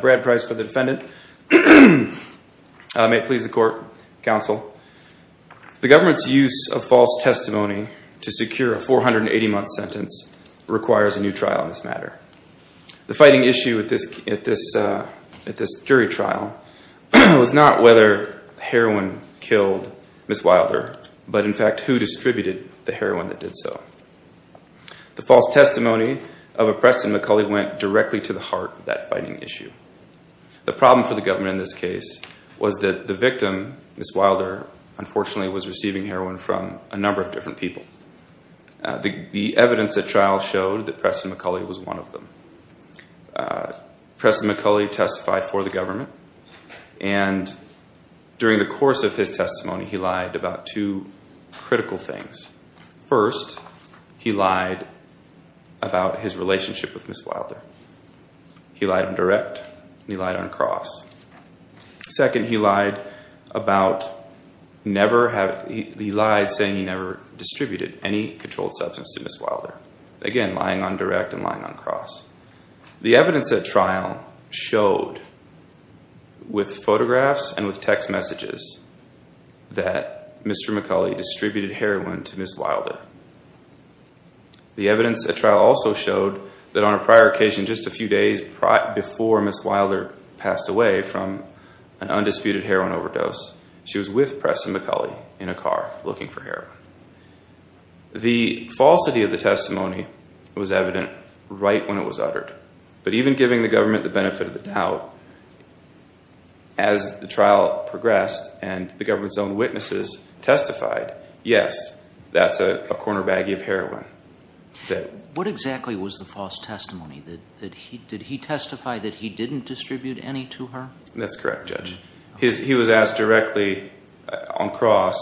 Brad Price for the defendant. May it please the court, counsel. The government's use of false testimony to secure a 480-month sentence requires a new trial in this matter. The fighting issue at this jury trial was not whether heroin killed Ms. Wilder, but in fact who distributed the heroin that did so. The false testimony of a Preston McCulley went directly to the heart of that fighting issue. The problem for the government in this case was that the victim, Ms. Wilder, unfortunately was receiving heroin from a number of different people. The evidence at trial showed that Preston McCulley was one of them. Preston McCulley testified for the government, and during the course of his testimony he lied about two critical things. First, he lied about his relationship with Ms. Wilder. He lied on direct and he lied on cross. Second, he lied saying he never distributed any controlled substance to Ms. Wilder. Again, lying on direct and lying on cross. The evidence at trial showed with photographs and with text messages that Mr. McCulley distributed heroin to Ms. Wilder. The evidence at trial also showed that on a prior occasion, just a few days before Ms. Wilder passed away from an undisputed heroin overdose, she was with Preston McCulley in a car looking for heroin. The falsity of the testimony was evident right when it was uttered. But even giving the government the benefit of the doubt, as the trial progressed and the government's own witnesses testified, yes, that's a corner baggie of heroin. What exactly was the false testimony? Did he testify that he didn't distribute any to her? That's correct, Judge. He was asked directly on cross,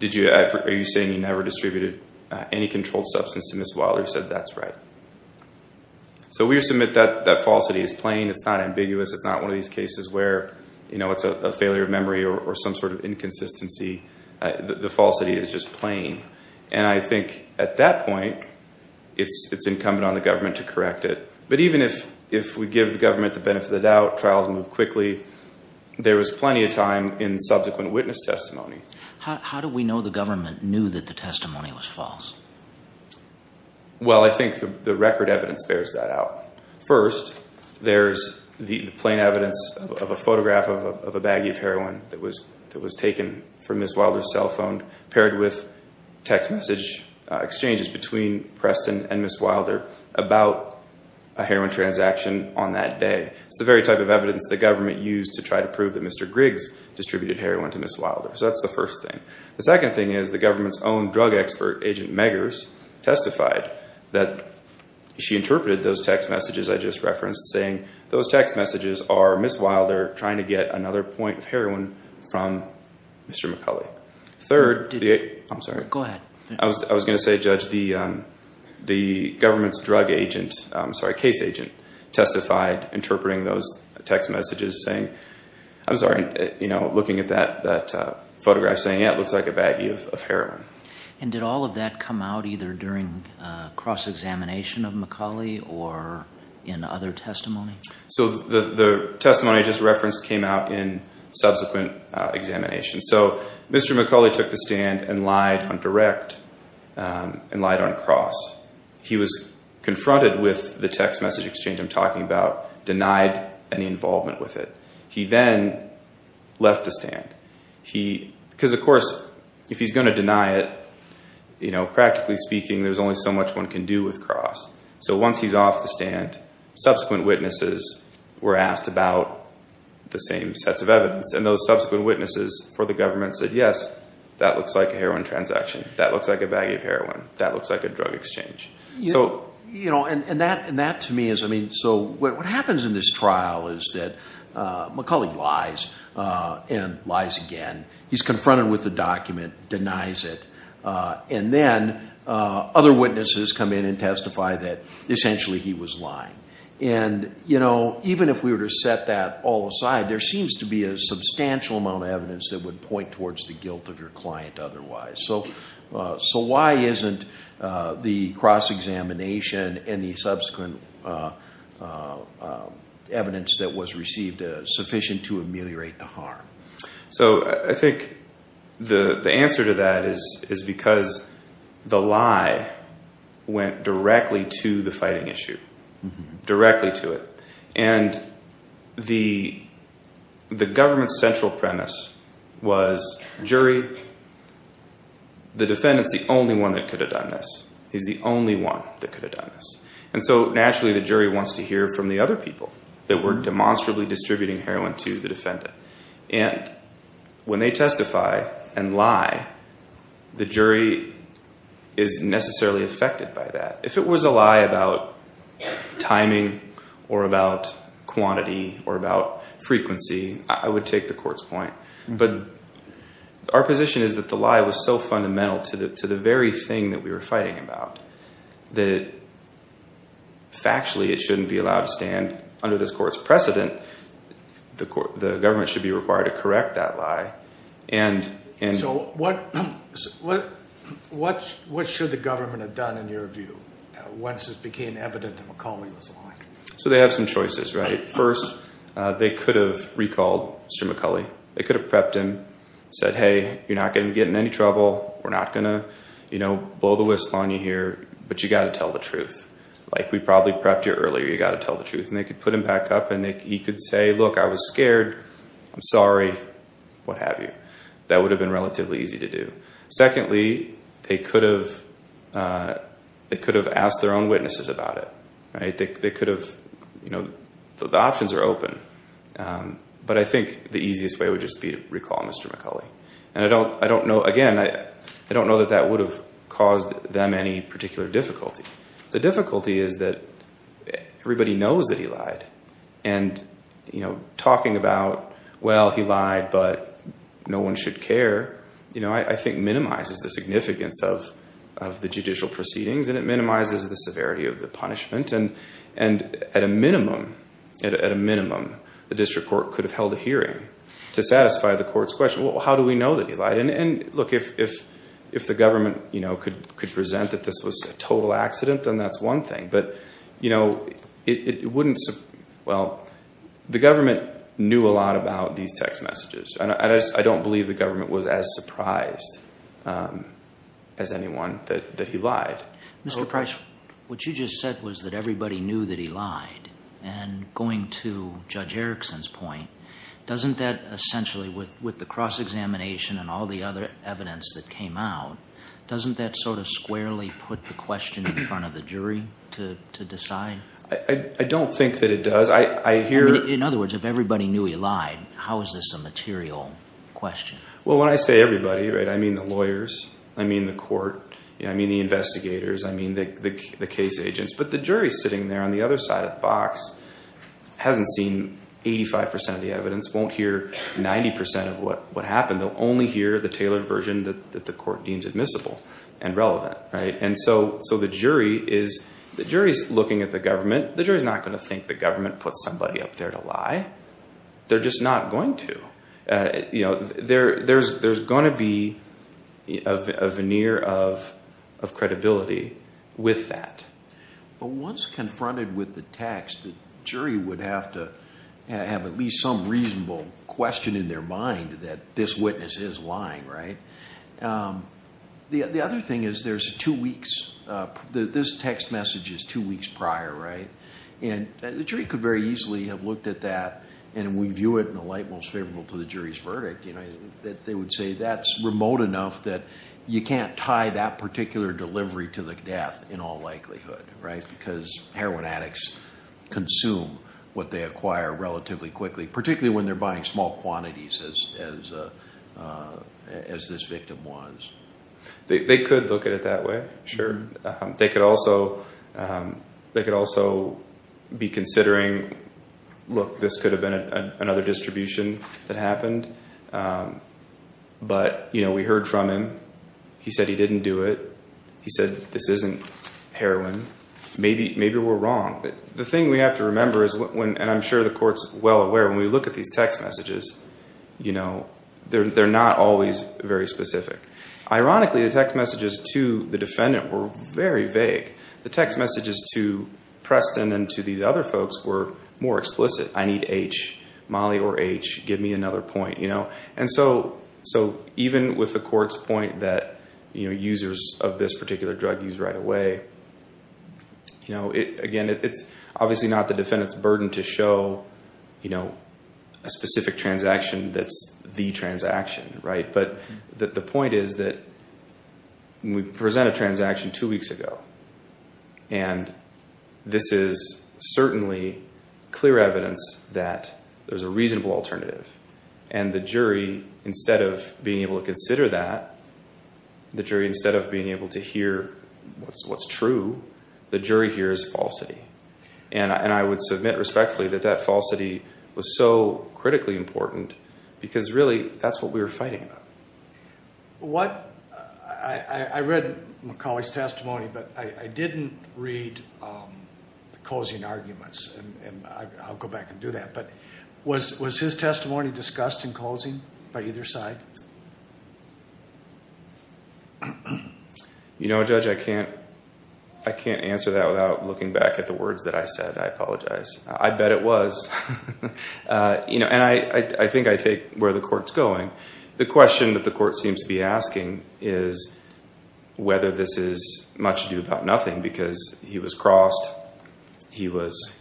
are you saying you never distributed any controlled substance to Ms. Wilder? He said, that's right. So we submit that that falsity is plain. It's not ambiguous. It's not one of these cases where it's a failure of memory or some sort of inconsistency. The falsity is just plain. And I think at that point, it's incumbent on the government to correct it. But even if we give the government the benefit of the doubt, trials move quickly, there was plenty of time in subsequent witness testimony. How do we know the government knew that the testimony was false? Well, I think the record evidence bears that out. First, there's the plain evidence of a photograph of a baggie of heroin that was taken from Ms. Wilder's cell phone, paired with text message exchanges between Preston and Ms. Wilder about a heroin transaction on that day. It's the very type of evidence the government used to try to prove that Mr. Griggs distributed heroin to Ms. Wilder. So that's the first thing. The second thing is the government's own drug expert, Agent Meggers, testified that she interpreted those text messages I just referenced, saying those text messages are Ms. Wilder trying to get another point of heroin from Mr. McCulley. I'm sorry. Go ahead. I was going to say, Judge, the government's drug agent, I'm sorry, case agent, testified interpreting those text messages saying, I'm sorry, looking at that photograph saying, yeah, it looks like a baggie of heroin. And did all of that come out either during cross-examination of McCulley or in other testimony? So the testimony I just referenced came out in subsequent examination. So Mr. McCulley took the stand and lied on direct and lied on cross. He was confronted with the text message exchange I'm talking about, denied any involvement with it. He then left the stand. Because, of course, if he's going to deny it, you know, practically speaking, there's only so much one can do with cross. So once he's off the stand, subsequent witnesses were asked about the same sets of evidence. And those subsequent witnesses for the government said, yes, that looks like a heroin transaction. That looks like a baggie of heroin. That looks like a drug exchange. You know, and that to me is, I mean, so what happens in this trial is that McCulley lies and lies again. He's confronted with the document, denies it. And then other witnesses come in and testify that essentially he was lying. And, you know, even if we were to set that all aside, there seems to be a substantial amount of evidence that would point towards the guilt of your client otherwise. So why isn't the cross-examination and the subsequent evidence that was received sufficient to ameliorate the harm? So I think the answer to that is because the lie went directly to the fighting issue, directly to it. And the government's central premise was jury, the defendant's the only one that could have done this. He's the only one that could have done this. And so naturally the jury wants to hear from the other people that were demonstrably distributing heroin to the defendant. And when they testify and lie, the jury is necessarily affected by that. If it was a lie about timing or about quantity or about frequency, I would take the court's point. But our position is that the lie was so fundamental to the very thing that we were fighting about that factually it shouldn't be allowed to stand under this court's precedent. The government should be required to correct that lie. So what should the government have done in your view once it became evident that McCulley was lying? So they have some choices, right? First, they could have recalled Mr. McCulley. They could have prepped him, said, hey, you're not going to get in any trouble. We're not going to blow the whistle on you here, but you've got to tell the truth. Like we probably prepped you earlier. You've got to tell the truth. And they could put him back up and he could say, look, I was scared. I'm sorry, what have you. That would have been relatively easy to do. Secondly, they could have asked their own witnesses about it. They could have, you know, the options are open. But I think the easiest way would just be to recall Mr. McCulley. And I don't know, again, I don't know that that would have caused them any particular difficulty. The difficulty is that everybody knows that he lied. And, you know, talking about, well, he lied but no one should care, you know, I think minimizes the significance of the judicial proceedings. And it minimizes the severity of the punishment. And at a minimum, at a minimum, the district court could have held a hearing to satisfy the court's question, well, how do we know that he lied? And, look, if the government, you know, could present that this was a total accident, then that's one thing. But, you know, it wouldn't, well, the government knew a lot about these text messages. And I don't believe the government was as surprised as anyone that he lied. Mr. Price, what you just said was that everybody knew that he lied. And going to Judge Erickson's point, doesn't that essentially, with the cross-examination and all the other evidence that came out, doesn't that sort of squarely put the question in front of the jury to decide? I don't think that it does. In other words, if everybody knew he lied, how is this a material question? Well, when I say everybody, I mean the lawyers, I mean the court, I mean the investigators, I mean the case agents. But the jury sitting there on the other side of the box hasn't seen 85% of the evidence, won't hear 90% of what happened. They'll only hear the tailored version that the court deems admissible and relevant. And so the jury is looking at the government. The jury's not going to think the government put somebody up there to lie. They're just not going to. There's going to be a veneer of credibility with that. But once confronted with the text, the jury would have to have at least some reasonable question in their mind that this witness is lying, right? The other thing is there's two weeks. This text message is two weeks prior, right? And the jury could very easily have looked at that and review it in a light most favorable to the jury's verdict. They would say that's remote enough that you can't tie that particular delivery to the death in all likelihood, right? Because heroin addicts consume what they acquire relatively quickly, particularly when they're buying small quantities as this victim was. They could look at it that way, sure. They could also be considering, look, this could have been another distribution that happened. But we heard from him. He said he didn't do it. He said this isn't heroin. Maybe we're wrong. The thing we have to remember is, and I'm sure the court's well aware, when we look at these text messages, they're not always very specific. Ironically, the text messages to the defendant were very vague. The text messages to Preston and to these other folks were more explicit. I need H, Molly or H. Give me another point. Even with the court's point that users of this particular drug use right away, again, it's obviously not the defendant's burden to show a specific transaction that's the transaction. But the point is that we present a transaction two weeks ago, and this is certainly clear evidence that there's a reasonable alternative. And the jury, instead of being able to consider that, the jury, instead of being able to hear what's true, the jury hears falsity. And I would submit respectfully that that falsity was so critically important because, really, that's what we were fighting about. I read McCauley's testimony, but I didn't read the closing arguments. And I'll go back and do that. But was his testimony discussed in closing by either side? You know, Judge, I can't answer that without looking back at the words that I said. I apologize. I bet it was. And I think I take where the court's going. The question that the court seems to be asking is whether this is much ado about nothing because he was crossed, it was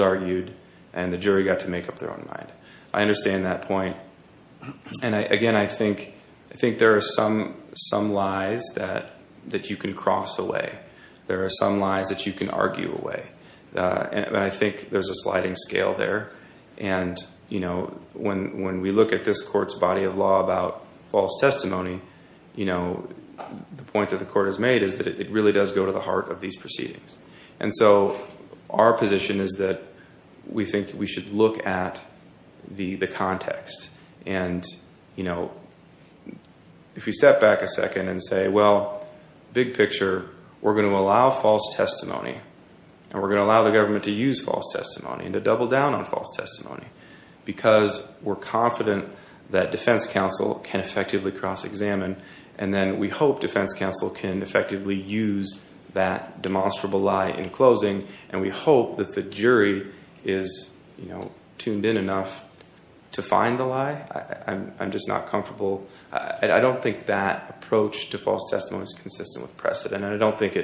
argued, and the jury got to make up their own mind. I understand that point. And, again, I think there are some lies that you can cross away. There are some lies that you can argue away. And I think there's a sliding scale there. And, you know, when we look at this court's body of law about false testimony, you know, the point that the court has made is that it really does go to the heart of these proceedings. And so our position is that we think we should look at the context. And, you know, if you step back a second and say, well, big picture, we're going to allow false testimony. And we're going to allow the government to use false testimony and to double down on false testimony because we're confident that defense counsel can effectively cross-examine. And then we hope defense counsel can effectively use that demonstrable lie in closing. And we hope that the jury is, you know, tuned in enough to find the lie. I'm just not comfortable. I don't think that approach to false testimony is consistent with precedent. And I don't think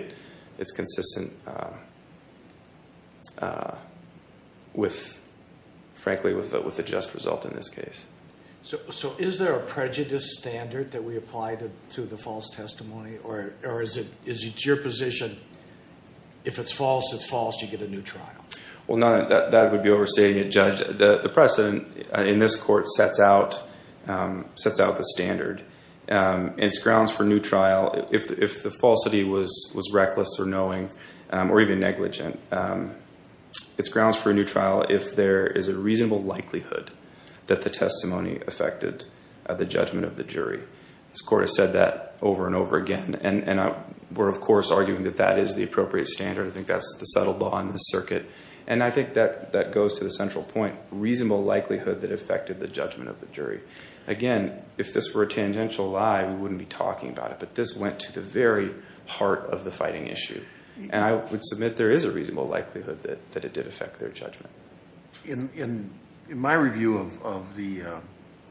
it's consistent with, frankly, with a just result in this case. So is there a prejudice standard that we apply to the false testimony? Or is it your position if it's false, it's false, you get a new trial? Well, that would be overstating it, Judge. The precedent in this court sets out the standard. And it's grounds for a new trial if the falsity was reckless or knowing or even negligent. It's grounds for a new trial if there is a reasonable likelihood that the testimony affected the judgment of the jury. This court has said that over and over again. And we're, of course, arguing that that is the appropriate standard. I think that's the settled law in this circuit. And I think that goes to the central point, reasonable likelihood that affected the judgment of the jury. Again, if this were a tangential lie, we wouldn't be talking about it. But this went to the very heart of the fighting issue. And I would submit there is a reasonable likelihood that it did affect their judgment. In my review of the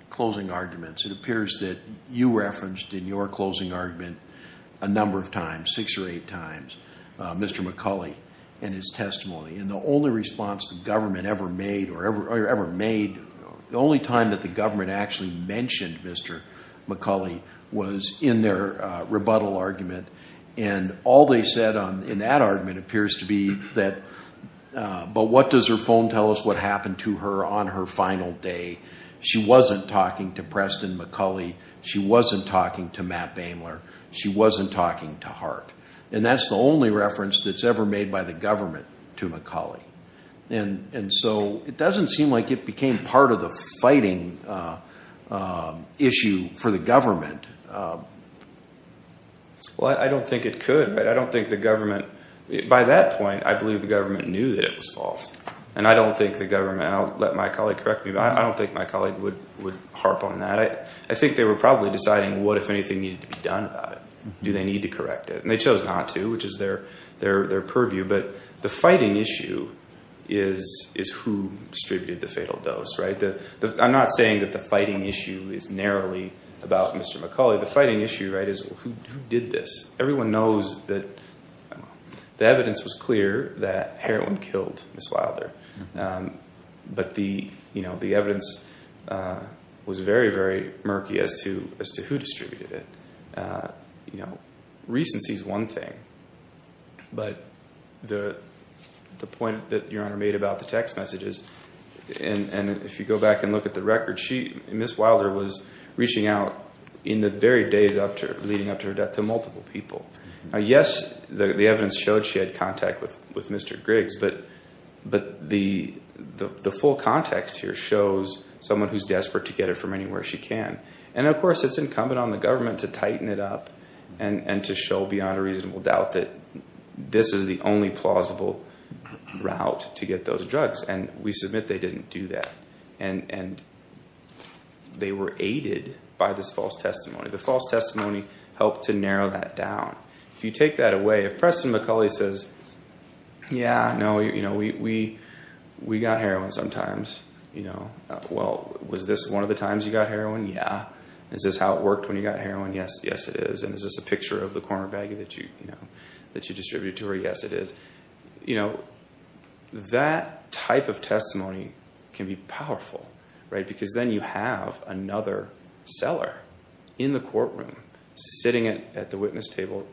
closing arguments, it appears that you referenced in your closing argument a number of times, six or eight times, Mr. McCulley and his testimony. And the only response the government ever made or ever made, the only time that the government actually mentioned Mr. McCulley was in their rebuttal argument. And all they said in that argument appears to be that, but what does her phone tell us what happened to her on her final day? She wasn't talking to Preston McCulley. She wasn't talking to Matt Boehmler. She wasn't talking to Hart. And that's the only reference that's ever made by the government to McCulley. And so it doesn't seem like it became part of the fighting issue for the government. Well, I don't think it could. But I don't think the government, by that point, I believe the government knew that it was false. And I don't think the government, and I'll let my colleague correct me, but I don't think my colleague would harp on that. I think they were probably deciding what, if anything, needed to be done about it. Do they need to correct it? And they chose not to, which is their purview. But the fighting issue is who distributed the fatal dose, right? I'm not saying that the fighting issue is narrowly about Mr. McCulley. The fighting issue, right, is who did this? Everyone knows that the evidence was clear that heroin killed Ms. Wilder. But the evidence was very, very murky as to who distributed it. Recency is one thing. But the point that Your Honor made about the text messages, and if you go back and look at the record, Ms. Wilder was reaching out in the very days leading up to her death to multiple people. Now, yes, the evidence showed she had contact with Mr. Griggs. But the full context here shows someone who's desperate to get it from anywhere she can. And, of course, it's incumbent on the government to tighten it up and to show, beyond a reasonable doubt, that this is the only plausible route to get those drugs. And we submit they didn't do that. And they were aided by this false testimony. The false testimony helped to narrow that down. If you take that away, if Preston McCulley says, yeah, no, we got heroin sometimes. Well, was this one of the times you got heroin? Yeah. Is this how it worked when you got heroin? Yes. Yes, it is. And is this a picture of the corner baggie that you distributed to her? Yes, it is. That type of testimony can be powerful. Because then you have another seller in the courtroom sitting at the witness table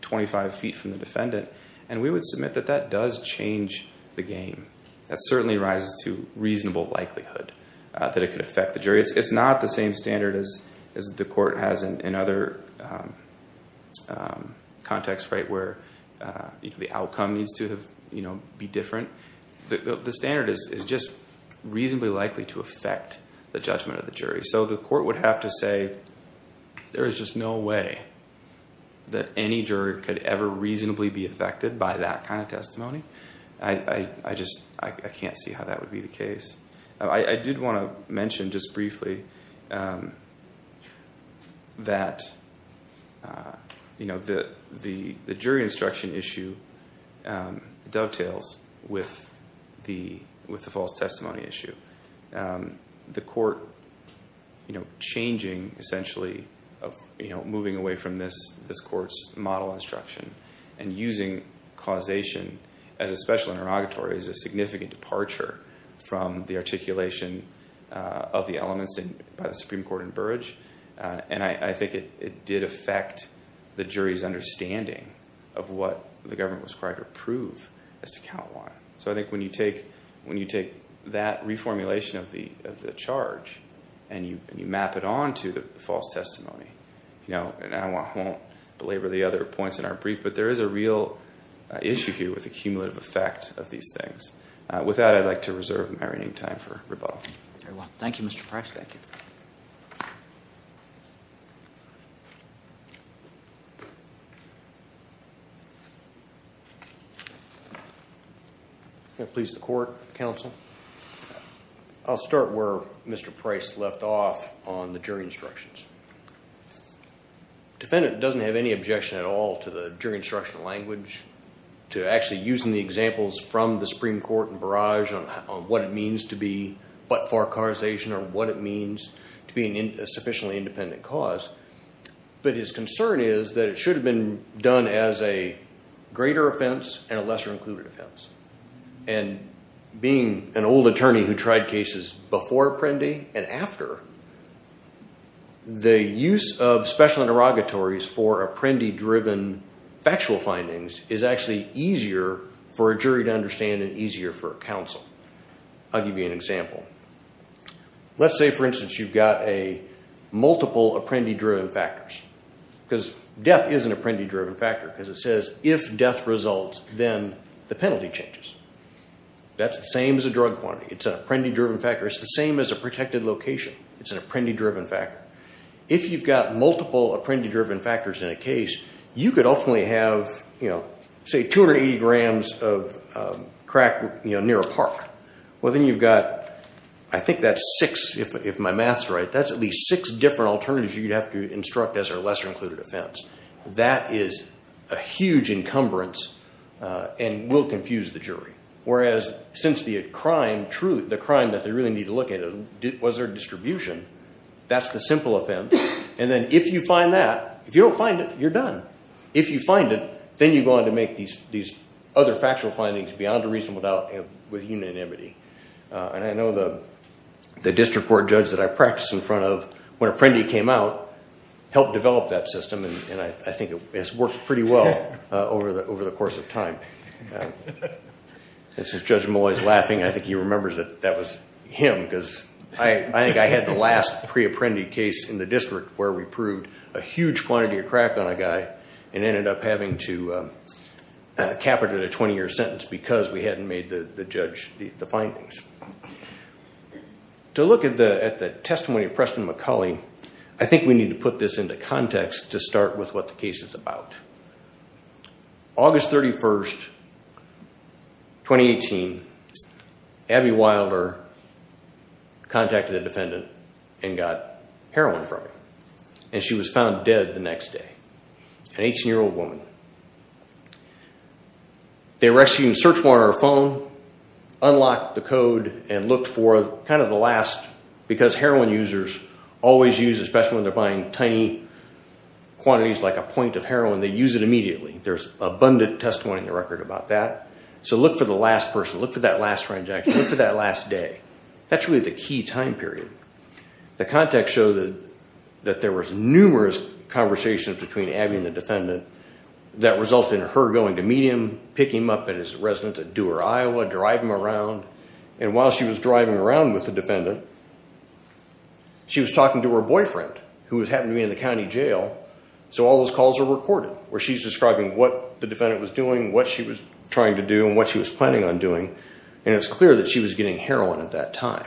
25 feet from the defendant. And we would submit that that does change the game. That certainly rises to reasonable likelihood that it could affect the jury. It's not the same standard as the court has in other contexts where the outcome needs to be different. The standard is just reasonably likely to affect the judgment of the jury. So the court would have to say, there is just no way that any jury could ever reasonably be affected by that kind of testimony. I just can't see how that would be the case. I did want to mention just briefly that the jury instruction issue dovetails with the false testimony issue. The court changing, essentially, moving away from this court's model instruction and using causation as a special interrogatory is a significant departure from the articulation of the elements by the Supreme Court in Burrage. And I think it did affect the jury's understanding of what the government was required to prove as to count one. So I think when you take that reformulation of the charge and you map it on to the false testimony, and I won't belabor the other points in our brief, but there is a real issue here with the cumulative effect of these things. With that, I'd like to reserve my remaining time for rebuttal. Thank you, Mr. Price. Please, the court, counsel. I'll start where Mr. Price left off on the jury instructions. The defendant doesn't have any objection at all to the jury instruction language, to actually using the examples from the Supreme Court in Burrage on what it means to be but-for causation or what it means to be a sufficiently independent cause. But his concern is that it should have been done as a greater offense and a lesser included offense. And being an old attorney who tried cases before Apprendi and after, the use of special interrogatories for Apprendi-driven factual findings is actually easier for a jury to understand and easier for counsel. I'll give you an example. Let's say, for instance, you've got multiple Apprendi-driven factors, because death is an Apprendi-driven factor, because it says if death results, then the penalty changes. That's the same as a drug quantity. It's an Apprendi-driven factor. It's the same as a protected location. It's an Apprendi-driven factor. If you've got multiple Apprendi-driven factors in a case, you could ultimately have, say, 280 grams of crack near a park. Well, then you've got, I think that's six, if my math's right. That's at least six different alternatives you'd have to instruct as a lesser included offense. That is a huge encumbrance and will confuse the jury. Whereas, since the crime that they really need to look at was their distribution, that's the simple offense. And then if you find that, if you don't find it, you're done. If you find it, then you go on to make these other factual findings beyond a reasonable doubt with unanimity. And I know the district court judge that I practiced in front of, when Apprendi came out, helped develop that system, and I think it's worked pretty well over the course of time. This is Judge Malloy's laughing. I think he remembers that that was him because I think I had the last pre-Apprendi case in the district where we proved a huge quantity of crack on a guy and ended up having to capitulate a 20-year sentence because we hadn't made the judge the findings. To look at the testimony of Preston McCulley, I think we need to put this into context to start with what the case is about. August 31st, 2018, Abby Wilder contacted a defendant and got heroin from him, and she was found dead the next day. An 18-year-old woman. They were actually going to search one of her phone, unlock the code, and look for kind of the last, because heroin users always use, especially when they're buying tiny quantities like a point of heroin, they use it immediately. There's abundant testimony in the record about that. So look for the last person, look for that last transaction, look for that last day. That's really the key time period. The context showed that there was numerous conversations between Abby and the defendant that resulted in her going to meet him, pick him up at his residence at Dewar, Iowa, drive him around. And while she was driving around with the defendant, she was talking to her boyfriend, who happened to be in the county jail. So all those calls are recorded, where she's describing what the defendant was doing, what she was trying to do, and what she was planning on doing. And it's clear that she was getting heroin at that time.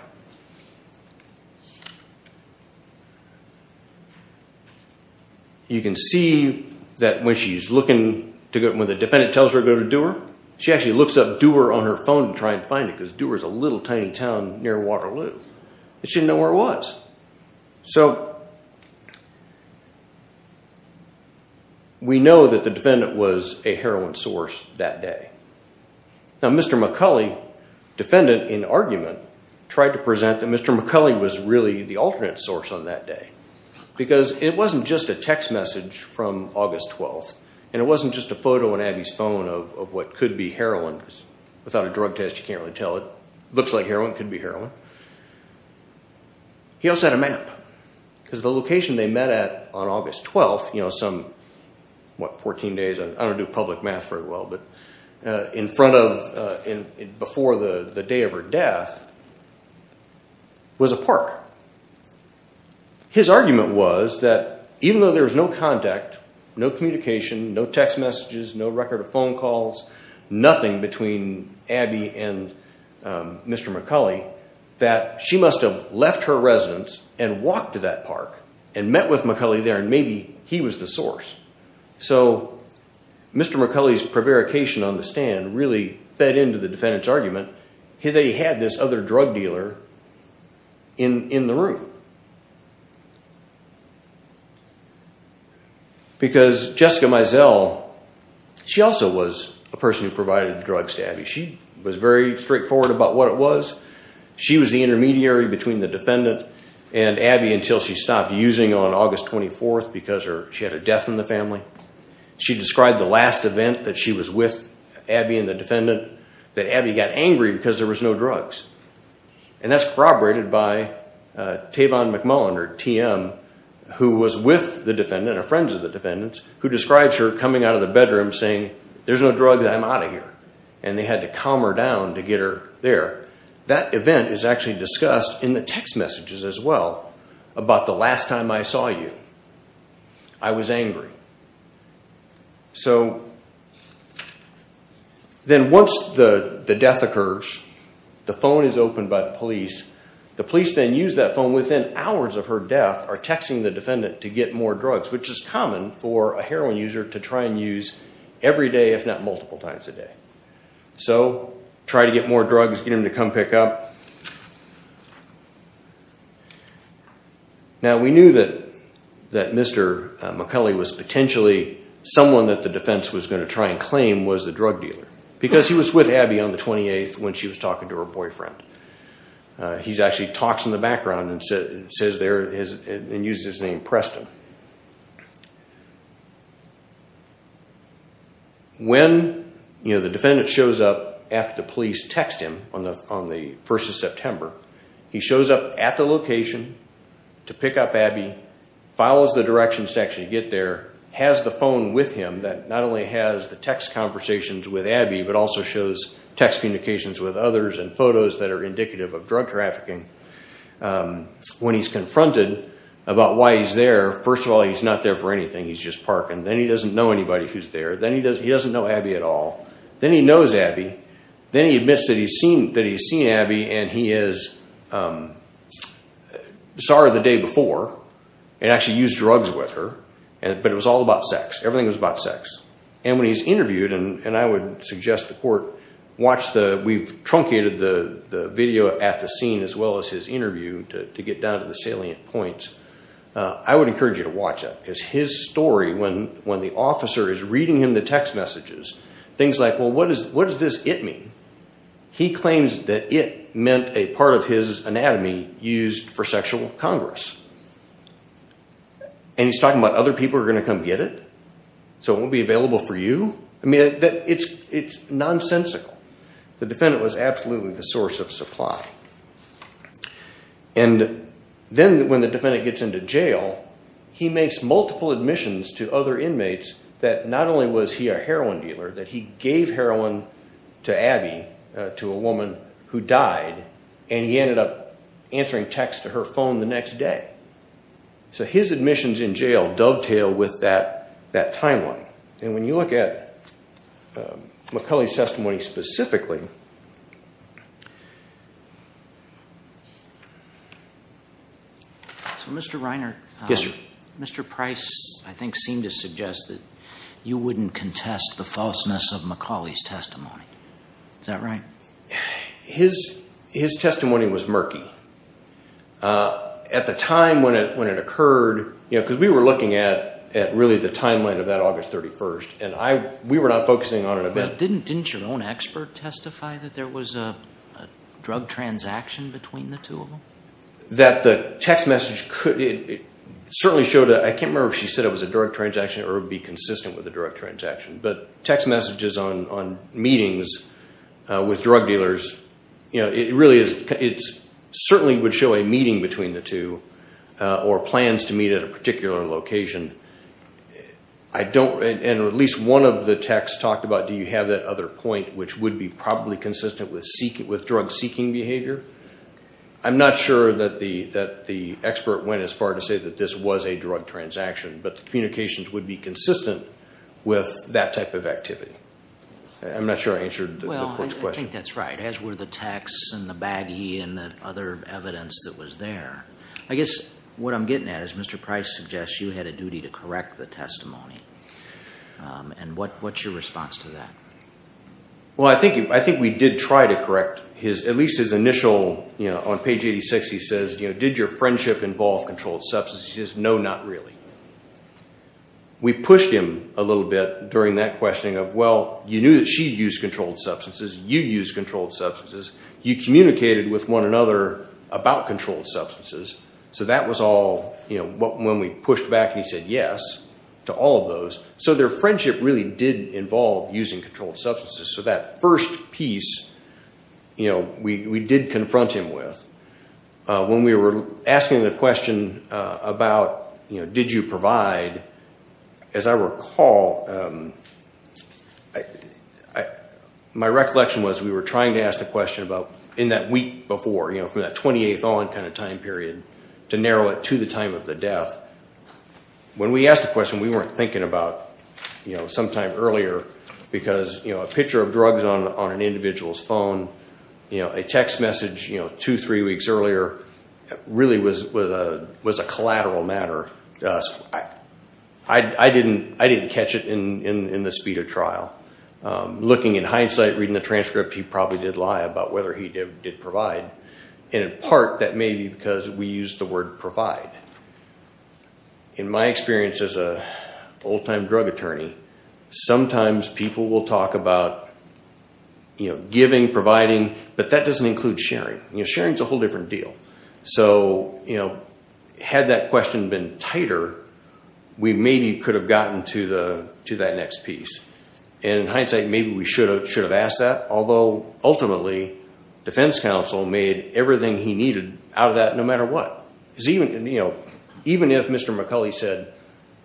You can see that when she's looking to go, when the defendant tells her to go to Dewar, she actually looks up Dewar on her phone to try and find it, because Dewar is a little tiny town near Waterloo. And she didn't know where it was. So we know that the defendant was a heroin source that day. Now Mr. McCulley, defendant in argument, tried to present that Mr. McCulley was really the alternate source on that day. Because it wasn't just a text message from August 12th. And it wasn't just a photo on Abby's phone of what could be heroin. Without a drug test, you can't really tell. It looks like heroin, could be heroin. He also had a map. Because the location they met at on August 12th, you know, some, what, 14 days? I don't do public math very well, but in front of, before the day of her death, was a park. His argument was that even though there was no contact, no communication, no text messages, no record of phone calls, nothing between Abby and Mr. McCulley, that she must have left her residence and walked to that park. And met with McCulley there, and maybe he was the source. So Mr. McCulley's prevarication on the stand really fed into the defendant's argument. They had this other drug dealer in the room. Because Jessica Mizell, she also was a person who provided drugs to Abby. She was very straightforward about what it was. She was the intermediary between the defendant and Abby until she stopped using on August 24th because she had a death in the family. She described the last event that she was with Abby and the defendant, that Abby got angry because there was no drugs. And that's corroborated by Tavon McMullen, or TM, who was with the defendant, or friends of the defendant, who describes her coming out of the bedroom saying, there's no drugs, I'm out of here. And they had to calm her down to get her there. That event is actually discussed in the text messages as well, about the last time I saw you. I was angry. So, then once the death occurs, the phone is opened by the police. The police then use that phone within hours of her death, or texting the defendant to get more drugs, which is common for a heroin user to try and use every day, if not multiple times a day. So, try to get more drugs, get them to come pick up. Now, we knew that Mr. McCulley was potentially someone that the defense was going to try and claim was the drug dealer. Because he was with Abby on the 28th when she was talking to her boyfriend. He actually talks in the background and uses his name, Preston. When the defendant shows up after the police text him on the 1st of September, he shows up at the location to pick up Abby, follows the directions to actually get there, has the phone with him that not only has the text conversations with Abby, but also shows text communications with others and photos that are indicative of drug trafficking. When he's confronted about why he's there, first of all, he's not there for anything. He's just parking. Then he doesn't know anybody who's there. Then he doesn't know Abby at all. Then he knows Abby. Then he admits that he's seen Abby and he is sorry the day before and actually used drugs with her. But it was all about sex. Everything was about sex. And when he's interviewed, and I would suggest the court watch the... to get down to the salient points, I would encourage you to watch it. Because his story, when the officer is reading him the text messages, things like, well, what does this it mean? He claims that it meant a part of his anatomy used for sexual congress. And he's talking about other people are going to come get it? So it won't be available for you? I mean, it's nonsensical. The defendant was absolutely the source of supply. And then when the defendant gets into jail, he makes multiple admissions to other inmates that not only was he a heroin dealer, that he gave heroin to Abby, to a woman who died, and he ended up answering texts to her phone the next day. So his admissions in jail dovetail with that timeline. And when you look at McCauley's testimony specifically... So, Mr. Reiner, Mr. Price, I think, seemed to suggest that you wouldn't contest the falseness of McCauley's testimony. Is that right? His testimony was murky. At the time when it occurred, because we were looking at really the timeline of that August 31st, and we were not focusing on an event. Didn't your own expert testify that there was a drug transaction between the two of them? That the text message certainly showed a... I can't remember if she said it was a drug transaction or it would be consistent with a drug transaction. But text messages on meetings with drug dealers, it certainly would show a meeting between the two or plans to meet at a particular location. And at least one of the texts talked about, do you have that other point, which would be probably consistent with drug-seeking behavior. I'm not sure that the expert went as far to say that this was a drug transaction, but the communications would be consistent with that type of activity. I'm not sure I answered the court's question. I think that's right, as were the texts and the baggie and the other evidence that was there. I guess what I'm getting at is Mr. Price suggests you had a duty to correct the testimony. And what's your response to that? Well, I think we did try to correct his, at least his initial, on page 86 he says, did your friendship involve controlled substances? He says, no, not really. We pushed him a little bit during that questioning of, well, you knew that she used controlled substances, you used controlled substances, you communicated with one another about controlled substances. So that was all, you know, when we pushed back and he said yes to all of those. So their friendship really did involve using controlled substances. So that first piece, you know, we did confront him with. When we were asking the question about, you know, did you provide, as I recall, my recollection was we were trying to ask the question about, in that week before, you know, from that 28th on kind of time period, to narrow it to the time of the death. When we asked the question, we weren't thinking about, you know, sometime earlier because, you know, a picture of drugs on an individual's phone, you know, a text message, you know, two, three weeks earlier, really was a collateral matter to us. I didn't catch it in the speed of trial. Looking in hindsight, reading the transcript, he probably did lie about whether he did provide, and in part that may be because we used the word provide. In my experience as an old-time drug attorney, sometimes people will talk about, you know, giving, providing, but that doesn't include sharing. You know, sharing is a whole different deal. So, you know, had that question been tighter, we maybe could have gotten to that next piece. In hindsight, maybe we should have asked that, although ultimately defense counsel made everything he needed out of that no matter what. Because even, you know, even if Mr. McCulley said,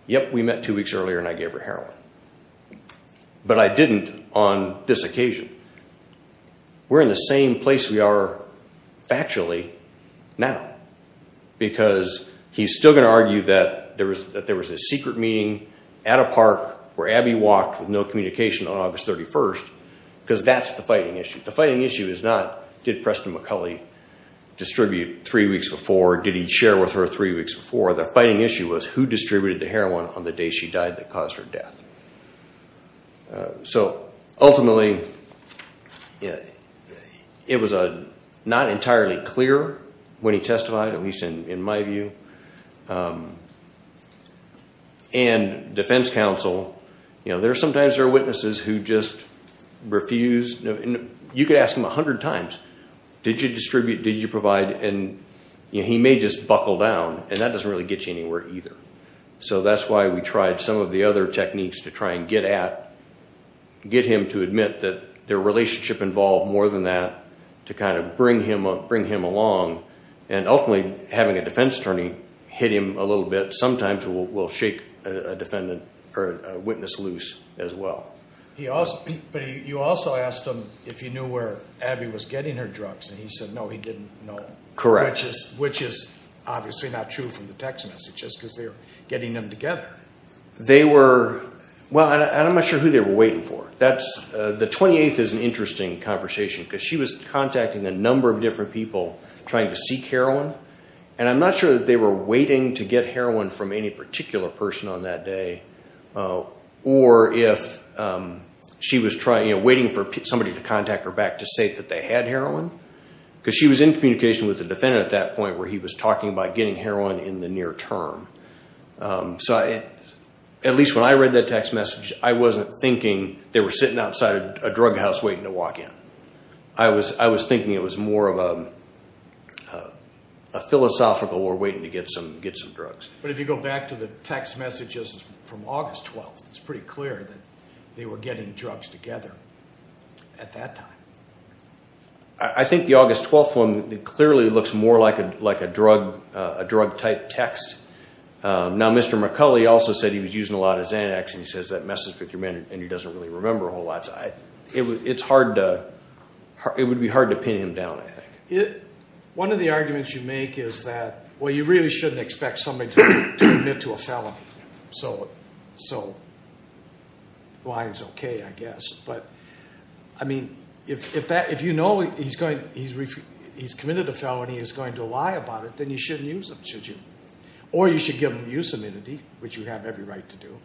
yep, we met two weeks earlier and I gave her heroin, but I didn't on this occasion, we're in the same place we are factually now. Because he's still going to argue that there was a secret meeting at a park where Abby walked with no communication on August 31st, because that's the fighting issue. The fighting issue is not did Preston McCulley distribute three weeks before, did he share with her three weeks before. The fighting issue was who distributed the heroin on the day she died that caused her death. So ultimately, it was not entirely clear when he testified, at least in my view. And defense counsel, you know, sometimes there are witnesses who just refuse. You could ask him a hundred times, did you distribute, did you provide, and he may just buckle down, and that doesn't really get you anywhere either. So that's why we tried some of the other techniques to try and get at, get him to admit that their relationship involved more than that, to kind of bring him along, and ultimately having a defense attorney hit him a little bit, sometimes will shake a witness loose as well. But you also asked him if he knew where Abby was getting her drugs, and he said no, he didn't know. Correct. Which is obviously not true from the text messages, because they were getting them together. They were, well, I'm not sure who they were waiting for. That's, the 28th is an interesting conversation, because she was contacting a number of different people trying to seek heroin, and I'm not sure that they were waiting to get heroin from any particular person on that day, or if she was trying, you know, waiting for somebody to contact her back to say that they had heroin, because she was in communication with the defendant at that point where he was talking about getting heroin in the near term. So at least when I read that text message, I wasn't thinking they were sitting outside a drug house waiting to walk in. I was thinking it was more of a philosophical, we're waiting to get some drugs. But if you go back to the text messages from August 12th, it's pretty clear that they were getting drugs together at that time. I think the August 12th one clearly looks more like a drug-type text. Now, Mr. McCulley also said he was using a lot of Xanax, and he says that messes with your memory, and he doesn't really remember a whole lot. It's hard to, it would be hard to pin him down, I think. One of the arguments you make is that, well, you really shouldn't expect somebody to admit to a felony. So the line's okay, I guess. But, I mean, if you know he's committed a felony and he's going to lie about it, then you shouldn't use him, should you? Or you should give him use amenity, which you have every right to do.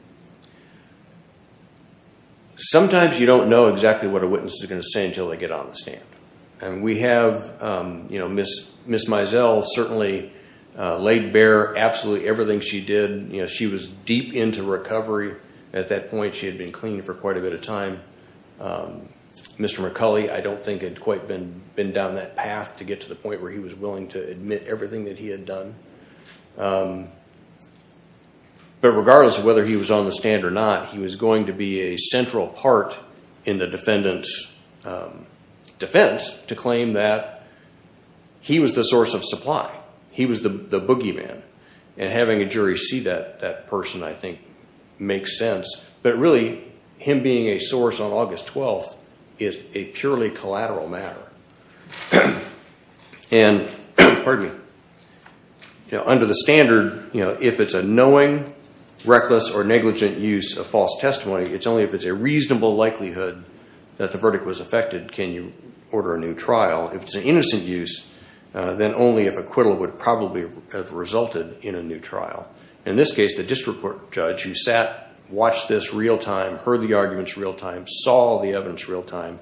Sometimes you don't know exactly what a witness is going to say until they get on the stand. We have Ms. Mizell certainly laid bare absolutely everything she did. She was deep into recovery at that point. She had been clean for quite a bit of time. Mr. McCulley, I don't think, had quite been down that path to get to the point where he was willing to admit everything that he had done. But regardless of whether he was on the stand or not, he was going to be a central part in the defendant's defense to claim that he was the source of supply, he was the boogeyman. And having a jury see that person, I think, makes sense. But really, him being a source on August 12th is a purely collateral matter. And under the standard, if it's a knowing, reckless, or negligent use of false testimony, it's only if it's a reasonable likelihood that the verdict was affected can you order a new trial. If it's an innocent use, then only if acquittal would probably have resulted in a new trial. In this case, the district court judge who sat, watched this real time, heard the arguments real time, saw the evidence real time,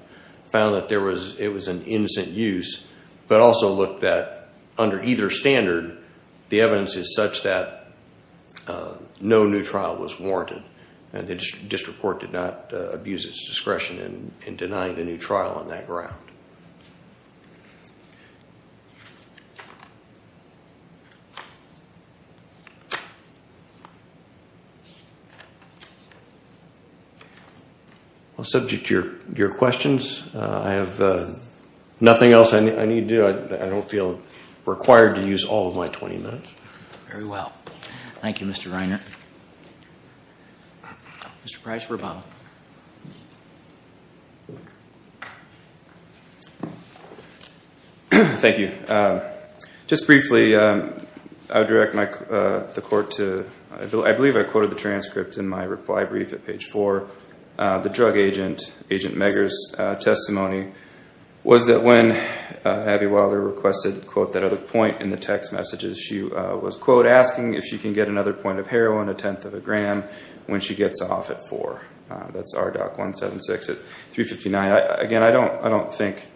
found that it was an innocent use, but also looked that under either standard, the evidence is such that no new trial was warranted. And the district court did not abuse its discretion in denying the new trial on that ground. Well, subject to your questions, I have nothing else I need to do. I don't feel required to use all of my 20 minutes. Very well. Thank you, Mr. Reiner. Mr. Price-Rabatel. Thank you. Just briefly, I would direct the court to, I believe I quoted the transcript in my reply brief at page 4, the drug agent, Agent Megger's, testimony was that when Abby Wilder requested, quote, at a point in the text messages, she was, quote, asking if she can get another point of heroin, a tenth of a gram, when she gets off at 4. That's RDOC 176 at 359. Again, I don't think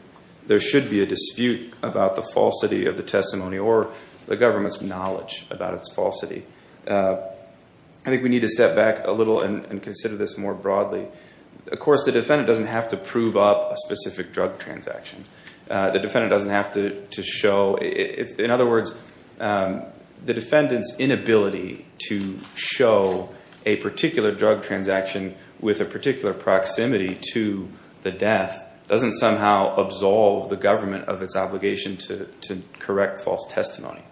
there should be a dispute about the falsity of the testimony or the government's knowledge about its falsity. I think we need to step back a little and consider this more broadly. Of course, the defendant doesn't have to prove up a specific drug transaction. The defendant doesn't have to show, in other words, the defendant's inability to show a particular drug transaction with a particular proximity to the death doesn't somehow absolve the government of its obligation to correct false testimony.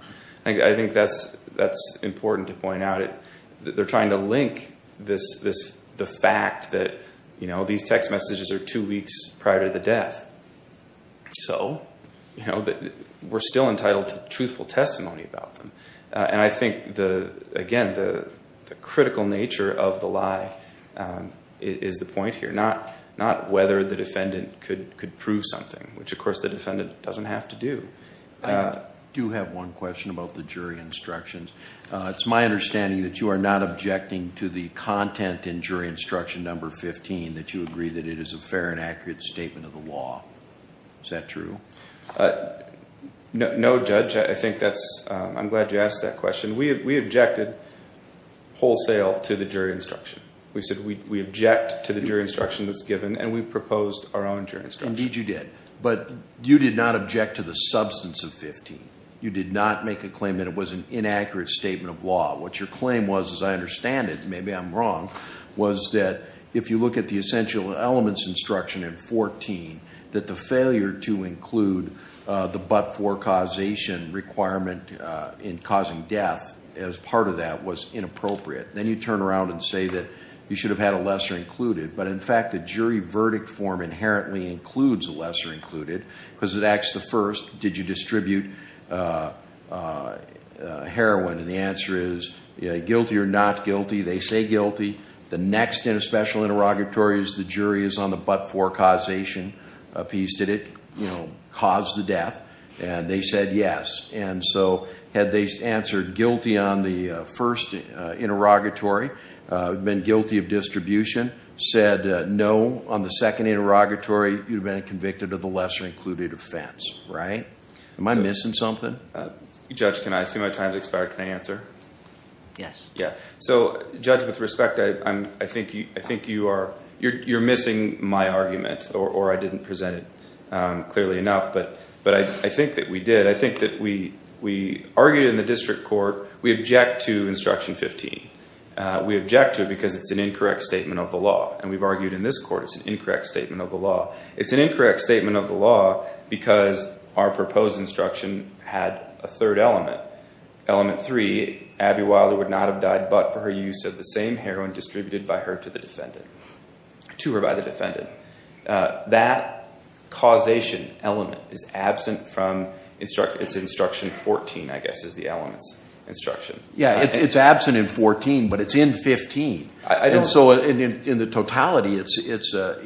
I think that's important to point out. They're trying to link the fact that these text messages are two weeks prior to the death. So we're still entitled to truthful testimony about them. And I think, again, the critical nature of the lie is the point here, not whether the defendant could prove something, which, of course, the defendant doesn't have to do. I do have one question about the jury instructions. It's my understanding that you are not objecting to the content in jury instruction number 15, that you agree that it is a fair and accurate statement of the law. Is that true? No, Judge. I'm glad you asked that question. We objected wholesale to the jury instruction. We said we object to the jury instruction that's given, and we proposed our own jury instruction. Indeed, you did. But you did not object to the substance of 15. You did not make a claim that it was an inaccurate statement of law. What your claim was, as I understand it, maybe I'm wrong, was that if you look at the essential elements instruction in 14, that the failure to include the but-for causation requirement in causing death as part of that was inappropriate. Then you turn around and say that you should have had a lesser included. But, in fact, the jury verdict form inherently includes a lesser included, because it asks the first, did you distribute heroin? And the answer is guilty or not guilty. They say guilty. The next in a special interrogatory is the jury is on the but-for causation piece. Did it cause the death? And they said yes. And so had they answered guilty on the first interrogatory, been guilty of distribution, said no on the second interrogatory, you'd have been convicted of the lesser included offense, right? Am I missing something? Judge, can I? I see my time has expired. Can I answer? Yes. So, Judge, with respect, I think you are missing my argument, or I didn't present it clearly enough. But I think that we did. I think that we argued in the district court. We object to instruction 15. We object to it because it's an incorrect statement of the law. And we've argued in this court it's an incorrect statement of the law. It's an incorrect statement of the law because our proposed instruction had a third element. Element three, Abby Wilder would not have died but for her use of the same heroin distributed by her to the defendant. To or by the defendant. That causation element is absent from instruction 14, I guess, is the element's instruction. Yeah, it's absent in 14, but it's in 15. And so in the totality, it's a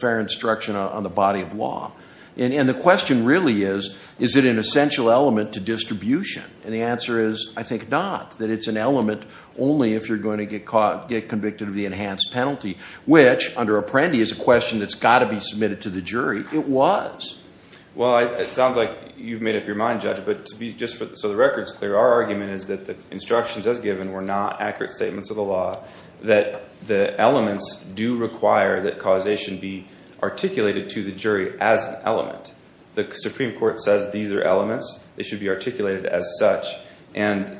fair instruction on the body of law. And the question really is, is it an essential element to distribution? And the answer is, I think not. That it's an element only if you're going to get convicted of the enhanced penalty, which under Apprendi is a question that's got to be submitted to the jury. It was. Well, it sounds like you've made up your mind, Judge. So the record's clear. Our argument is that the instructions as given were not accurate statements of the law, that the elements do require that causation be articulated to the jury as an element. The Supreme Court says these are elements. They should be articulated as such. And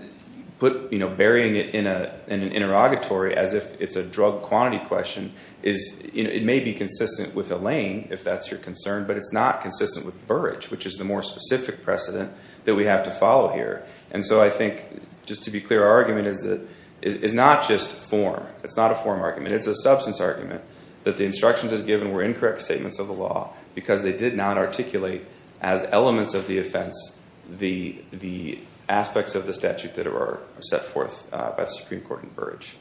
burying it in an interrogatory as if it's a drug quantity question, it may be consistent with a laying, if that's your concern, but it's not consistent with Burrage, which is the more specific precedent that we have to follow here. And so I think, just to be clear, our argument is not just form. It's not a form argument. It's a substance argument that the instructions as given were incorrect statements of the law because they did not articulate as elements of the offense the aspects of the statute that are set forth by the Supreme Court in Burrage.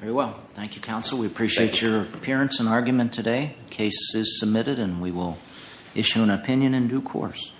Very well. Thank you, counsel. We appreciate your appearance and argument today. The case is submitted, and we will issue an opinion in due course.